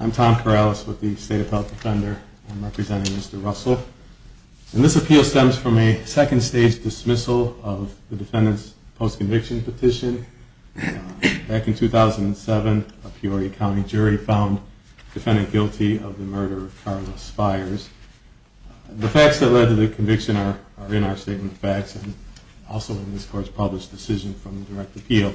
I'm Tom Corrales with the State Appellate Defender. I'm representing Mr. Russell. And this appeal stems from a state-appellate defender, Mr. Tom Corrales, who is a state-appellate defendant. This is a second-stage dismissal of the defendant's post-conviction petition. Back in 2007, a Peoria County jury found the defendant guilty of the murder of Carla Spires. The facts that led to the conviction are in our Statement of Facts and also in this Court's published decision from the Direct Appeal.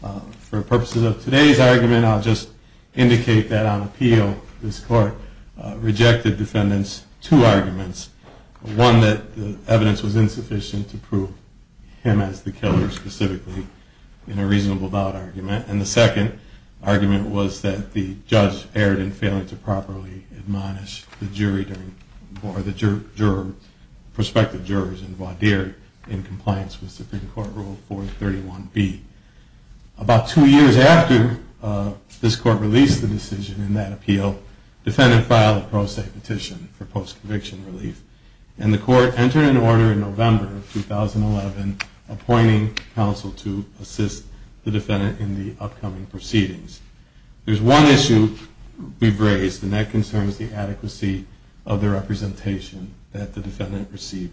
For the purposes of today's argument, I'll just indicate that on appeal, this Court rejected the defendant's two arguments. One, that the evidence was insufficient to prove him as the killer, specifically, in a reasonable doubt argument. And the second argument was that the judge erred in failing to properly admonish the jury or the prospective jurors in Vaudear in compliance with Supreme Court Rule 431B. About two years after this Court released the decision in that appeal, the defendant filed a pro se petition for post-conviction relief. And the Court entered into order in November of 2011, appointing counsel to assist the defendant in the upcoming proceedings. There's one issue we've raised, and that concerns the adequacy of the representation that the defendant received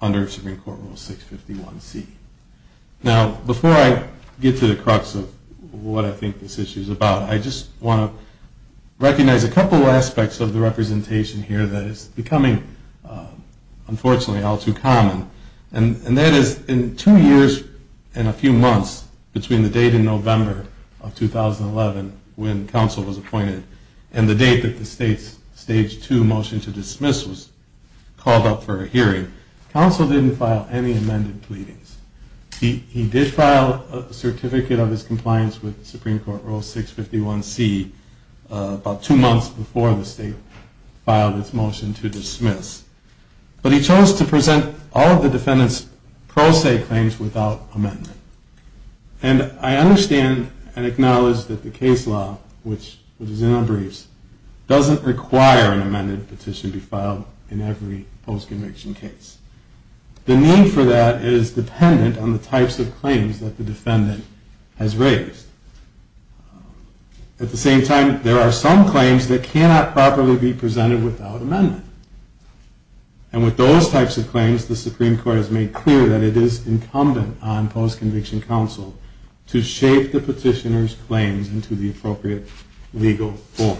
under Supreme Court Rule 651C. Now, before I get to the crux of what I think this issue is about, I just want to recognize a couple aspects of the representation here that is becoming, unfortunately, all too common. And that is, in two years and a few months between the date in November of 2011, when counsel was appointed, and the date that the state's Stage 2 motion to dismiss was called up for a hearing, counsel didn't file any amended pleadings. He did file a certificate of his compliance with Supreme Court Rule 651C about two months before the state filed its motion to dismiss. But he chose to present all of the defendant's pro se claims without amendment. And I understand and acknowledge that the case law, which is in our briefs, doesn't require an amended petition to be filed in every post-conviction case. The need for that is dependent on the types of claims that the defendant has raised. At the same time, there are some claims that cannot properly be presented without amendment. And with those types of claims, the Supreme Court has made clear that it is incumbent on post-conviction counsel to shape the petitioner's claims into the appropriate legal form.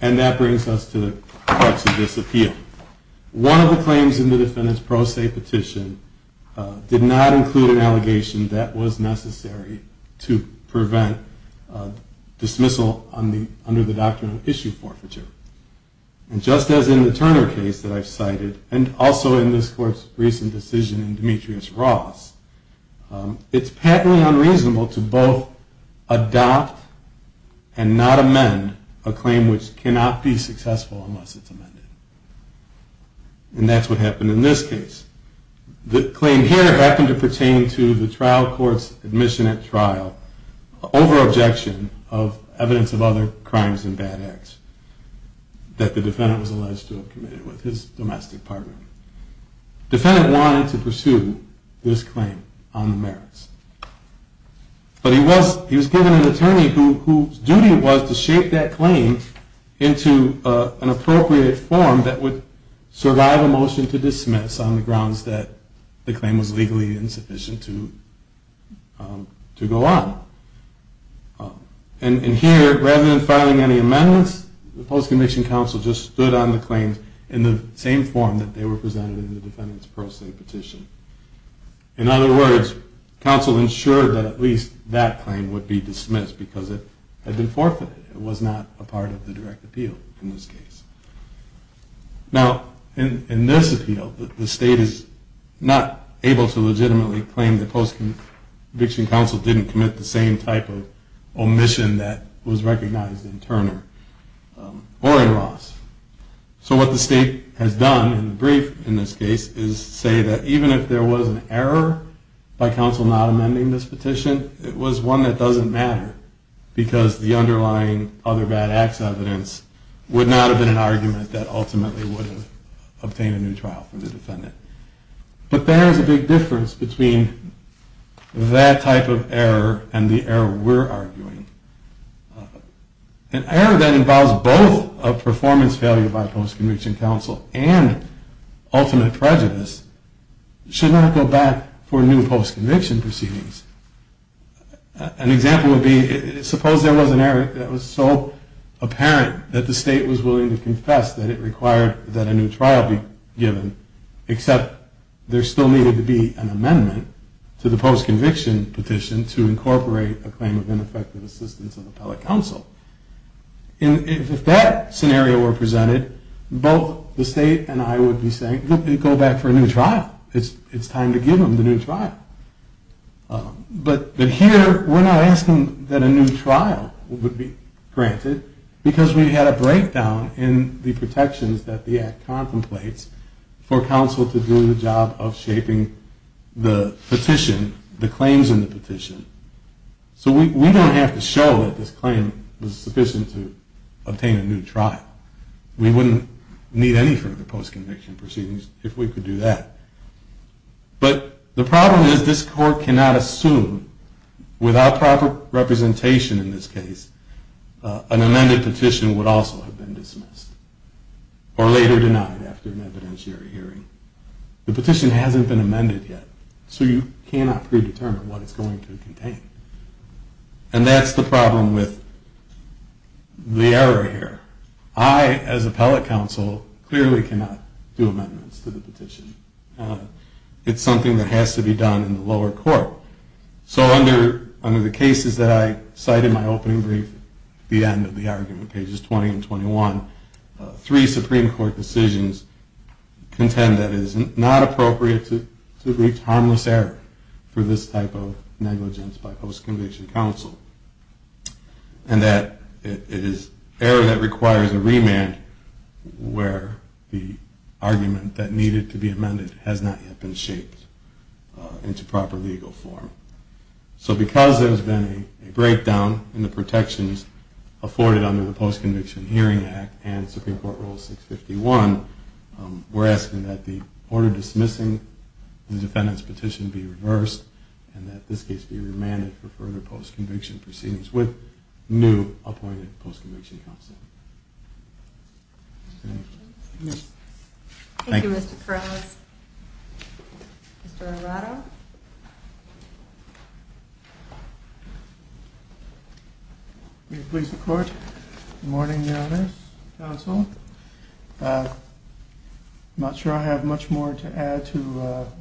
And that brings us to the crux of this appeal. One of the claims in the defendant's pro se petition did not include an allegation that was necessary to prevent dismissal under the doctrine of issue forfeiture. And just as in the Turner case that I cited, and also in this court's recent decision in Demetrius Ross, it's patently unreasonable to both adopt and not amend a claim which cannot be successful unless it's amended. And that's what happened in this case. The claim here happened to pertain to the trial court's admission at trial over objection of evidence of other crimes and bad acts that the defendant was alleged to have committed with his domestic partner. The defendant wanted to pursue this claim on the merits. But he was given an attorney whose duty was to shape that claim into an appropriate form that would survive a motion to dismiss on the grounds that the claim was legally insufficient to go on. And here, rather than filing any amendments, the post-conviction counsel just stood on the claims in the same form that they were presented in the defendant's pro se petition. In other words, counsel ensured that at least that claim would be dismissed because it had been forfeited. It was not a part of the direct appeal in this case. Now, in this appeal, the state is not able to legitimately claim that post-conviction counsel didn't commit the same type of omission that was recognized in Turner or in Ross. So what the state has done in the brief in this case is say that even if there was an error by counsel not amending this petition, it was one that doesn't matter. Because the underlying other bad acts evidence would not have been an argument that ultimately would have obtained a new trial for the defendant. But there is a big difference between that type of error and the error we're arguing. An error that involves both a performance failure by post-conviction counsel and ultimate prejudice should not go back for new post-conviction proceedings. An example would be, suppose there was an error that was so apparent that the state was willing to confess that it required that a new trial be given, except there still needed to be an amendment to the post-conviction petition to incorporate a claim of ineffective assistance of appellate counsel. And if that scenario were presented, both the state and I would be saying, go back for a new trial. It's time to give them the new trial. But here we're not asking that a new trial would be granted because we had a breakdown in the protections that the act contemplates for counsel to do the job of shaping the petition, the claims in the petition. So we don't have to show that this claim was sufficient to obtain a new trial. We wouldn't need any further post-conviction proceedings if we could do that. But the problem is this court cannot assume, without proper representation in this case, an amended petition would also have been dismissed or later denied after an evidentiary hearing. The petition hasn't been amended yet, so you cannot predetermine what it's going to contain. And that's the problem with the error here. I, as appellate counsel, clearly cannot do amendments to the petition. It's something that has to be done in the lower court. So under the cases that I cite in my opening brief, the end of the argument, pages 20 and 21, three Supreme Court decisions contend that it is not appropriate to reach harmless error for this type of negligence by post-conviction counsel. And that it is error that requires a remand where the argument that needed to be amended has not yet been shaped into proper legal form. So because there has been a breakdown in the protections afforded under the Post-Conviction Hearing Act and Supreme Court Rule 651, we're asking that the order dismissing the defendant's petition be reversed and that this case be remanded for further post-conviction proceedings with new appointed post-conviction counsel. Thank you. Thank you, Mr. Perez. Mr. Arado? May it please the Court. Good morning, Your Honor's counsel. I'm not sure I have much more to add to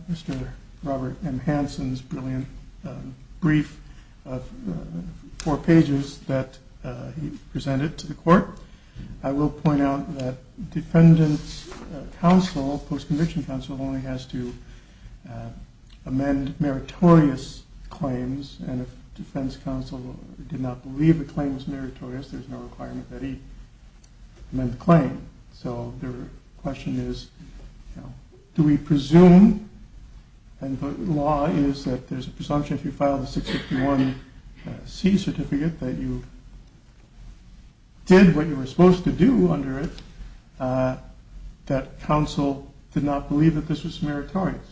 Mr. Robert M. Hansen's brilliant brief of four pages that he presented to the Court. I will point out that defendant's counsel, post-conviction counsel, only has to amend meritorious claims. And if defendant's counsel did not believe the claim was meritorious, there's no requirement that he amend the claim. So the question is, do we presume, and the law is that there's a presumption if you file the 651C certificate that you did what you were supposed to do under it, that counsel did not believe that this was meritorious.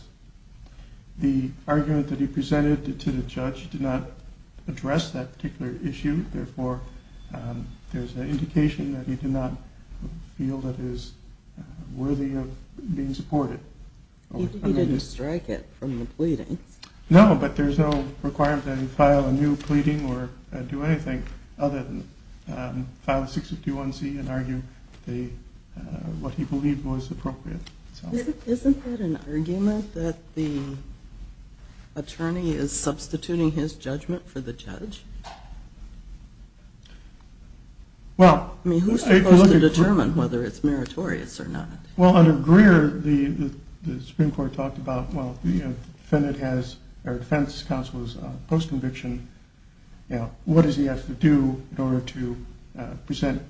The argument that he presented to the judge did not address that particular issue. Therefore, there's an indication that he did not feel that it was worthy of being supported. He didn't strike it from the pleading. No, but there's no requirement that he file a new pleading or do anything other than file the 651C and argue what he believed was appropriate. Isn't that an argument that the attorney is substituting his judgment for the judge? I mean, who's supposed to determine whether it's meritorious or not? Well, under Greer, the Supreme Court talked about, well, defendant has, or defendant's counsel is post-conviction. What does he have to do in order to present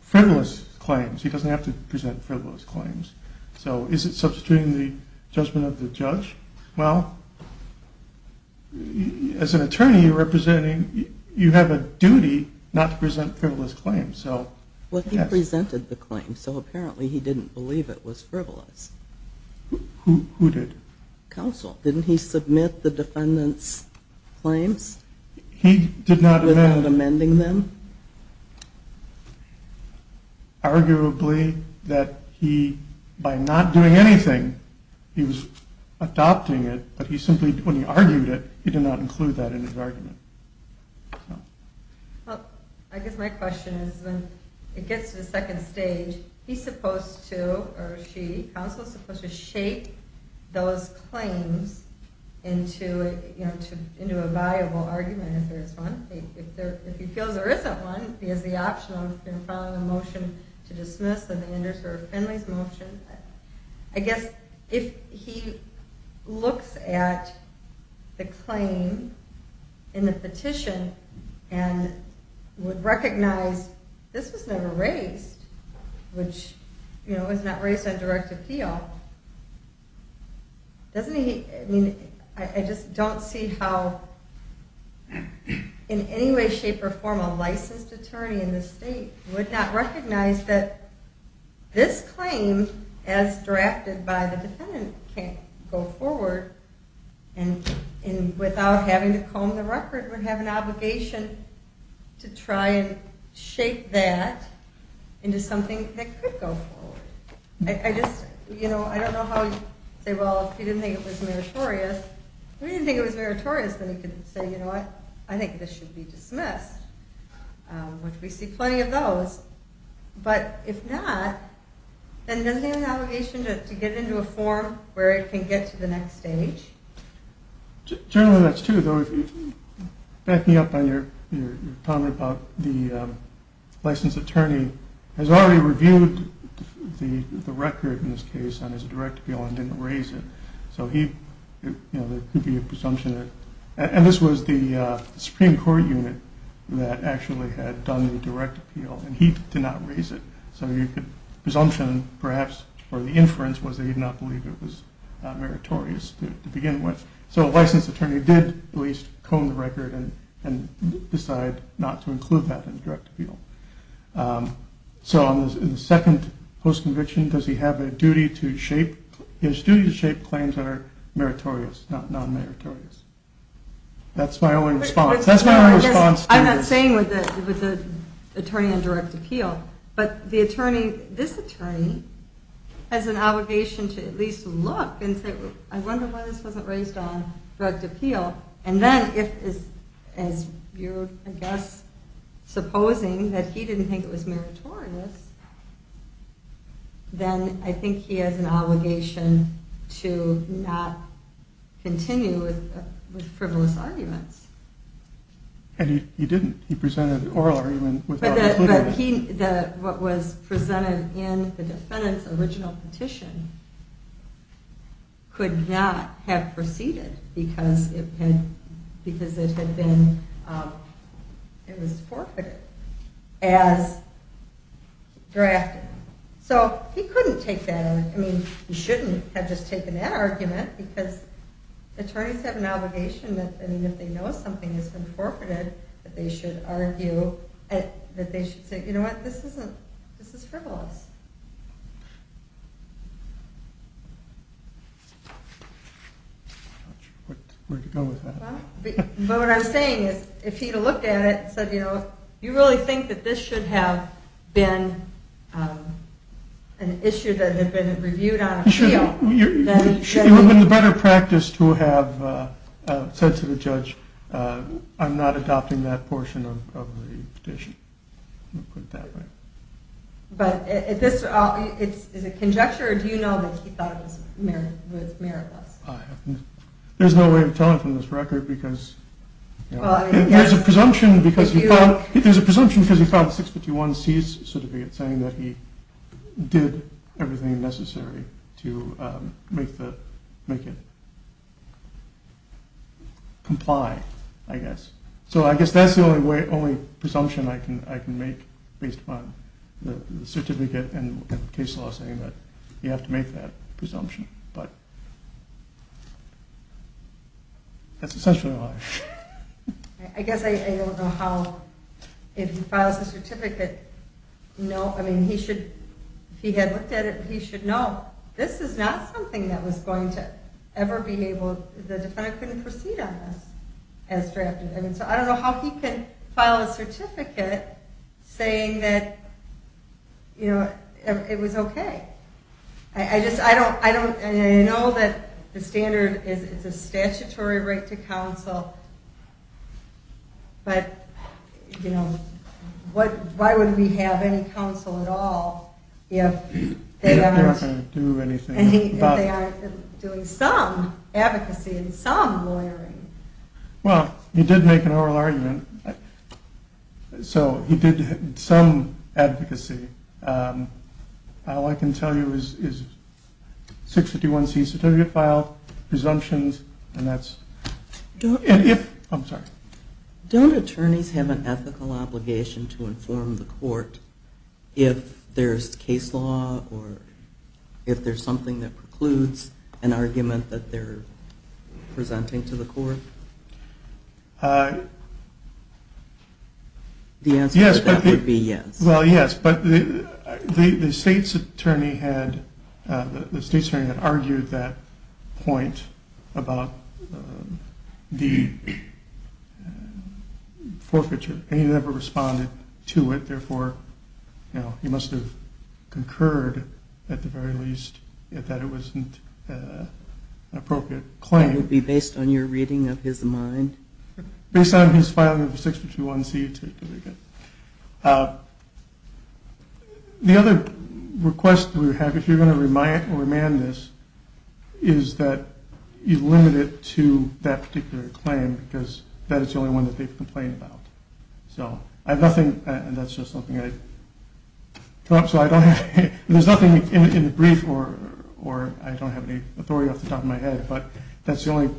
frivolous claims? He doesn't have to present frivolous claims. So is it substituting the judgment of the judge? Well, as an attorney, you're representing, you have a duty not to present frivolous claims. Well, he presented the claim, so apparently he didn't believe it was frivolous. Who did? Counsel. Didn't he submit the defendant's claims? He did not amend. Without amending them? Arguably, that he, by not doing anything, he was adopting it, but he simply, when he argued it, he did not include that in his argument. Well, I guess my question is, when it gets to the second stage, he's supposed to, or she, counsel's supposed to shape those claims into a valuable argument, if there is one. If he feels there isn't one, he has the option of filing a motion to dismiss, then the underserved families motion. I guess if he looks at the claim in the petition and would recognize this was never raised, which, you know, it was not raised on direct appeal, doesn't he, I mean, I just don't see how in any way, shape, or form a licensed attorney in this state would not recognize that this claim, as drafted by the defendant, can't go forward and without having to comb the record would have an obligation to try and shape that into something that could go forward. I just, you know, I don't know how you'd say, well, if he didn't think it was meritorious, if he didn't think it was meritorious, then he could say, you know what, I think this should be dismissed, which we see plenty of those, but if not, then doesn't he have an obligation to get it into a form where it can get to the next stage? Generally that's true, though, backing up on your comment about the licensed attorney has already reviewed the record in this case on his direct appeal and didn't raise it, so he, you know, there could be a presumption, and this was the Supreme Court unit that actually had done the direct appeal, and he did not raise it, so the presumption, perhaps, or the inference was that he did not believe it was meritorious to begin with. So a licensed attorney did at least comb the record and decide not to include that in the direct appeal. So in the second post-conviction, does he have a duty to shape, he has a duty to shape claims that are meritorious, not non-meritorious. That's my only response. I'm not saying with the attorney on direct appeal, but this attorney has an obligation to at least look and say, I wonder why this wasn't raised on direct appeal, and then if, as you're, I guess, supposing that he didn't think it was meritorious, then I think he has an obligation to not continue with frivolous arguments. And he didn't. He presented an oral argument without including it. What was presented in the defendant's original petition could not have proceeded because it had been forfeited as drafted. So he couldn't take that argument. He shouldn't have just taken that argument, because attorneys have an obligation that if they know something has been forfeited, that they should argue, that they should say, you know what, this is frivolous. I'm not sure where to go with that. But what I'm saying is, if he had looked at it and said, you know, you really think that this should have been an issue that had been reviewed on appeal, then he should have... It would have been better practice to have said to the judge, I'm not adopting that portion of the petition. Is it conjecture, or do you know that he thought it was meritless? There's no way of telling from this record, because there's a presumption because he filed 651C's certificate saying that he did everything necessary to make it comply, I guess. So I guess that's the only presumption I can make based upon the certificate and case law saying that you have to make that presumption. But that's essentially why. I guess I don't know how, if he files a certificate, no, I mean, he should, if he had looked at it, he should know this is not something that was going to ever be able... The defendant couldn't proceed on this as drafted. So I don't know how he could file a certificate saying that it was okay. I know that the standard is a statutory right to counsel, but why would we have any counsel at all if they aren't doing some advocacy and some lawyering? Well, he did make an oral argument. So he did some advocacy. All I can tell you is 651C's certificate file, presumptions, and that's... Don't attorneys have an ethical obligation to inform the court if there's case law or if there's something that precludes an argument that they're presenting to the court? The answer to that would be yes. Well, yes, but the state's attorney had argued that point about the forfeiture, and he never responded to it. Therefore, he must have concurred at the very least that it wasn't an appropriate claim. And it would be based on your reading of his mind? Based on his filing of 651C certificate. The other request we have, if you're going to remand this, is that you limit it to that particular claim because that is the only one that they've complained about. So I have nothing... That's just something I... There's nothing in the brief, or I don't have any authority off the top of my head, but that's the only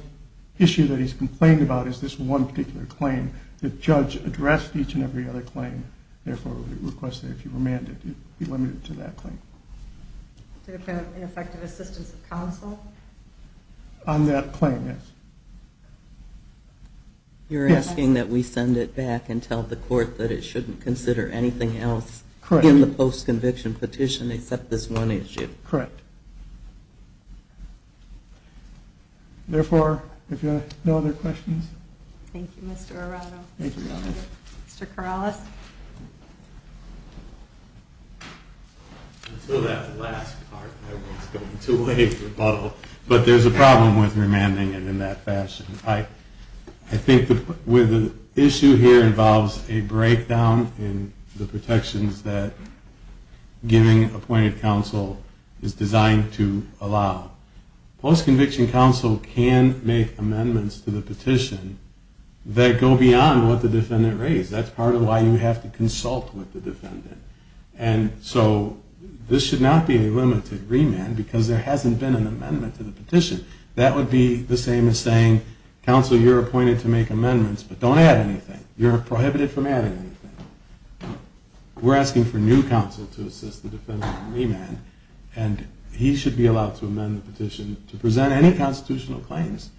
issue that he's complained about is this one particular claim. The judge addressed each and every other claim. Therefore, we request that if you remand it, it be limited to that claim. Did it have ineffective assistance of counsel? On that claim, yes. You're asking that we send it back and tell the court that it shouldn't consider anything else in the post-conviction petition except this one issue? Correct. Therefore, if you have no other questions... Thank you, Mr. Arado. Mr. Corrales. Until that last part, everyone's going to wave rebuttal. But there's a problem with remanding it in that fashion. I think the issue here involves a breakdown in the protections that giving appointed counsel is designed to allow. Post-conviction counsel can make amendments to the petition that go beyond what the defendant raised. That's part of why you have to consult with the defendant. And so this should not be a limited remand because there hasn't been an amendment to the petition. That would be the same as saying, counsel, you're appointed to make amendments, but don't add anything. You're prohibited from adding anything. We're asking for new counsel to assist the defendant in remand. And he should be allowed to amend the petition to present any constitutional claims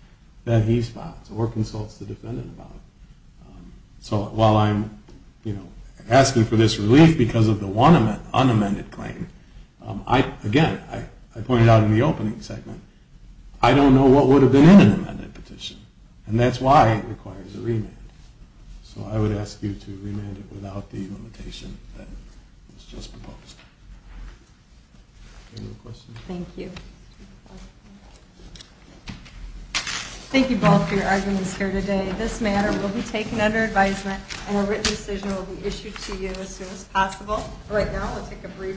that he spots or consults the defendant about. So while I'm asking for this relief because of the one unamended claim, again, I pointed out in the opening segment, I don't know what would have been in an amended petition. And that's why it requires a remand. So I would ask you to remand it without the limitation that was just proposed. Any other questions? Thank you. Thank you both for your arguments here today. This matter will be taken under advisement and a written decision will be issued to you as soon as possible. Right now, we'll take a brief break.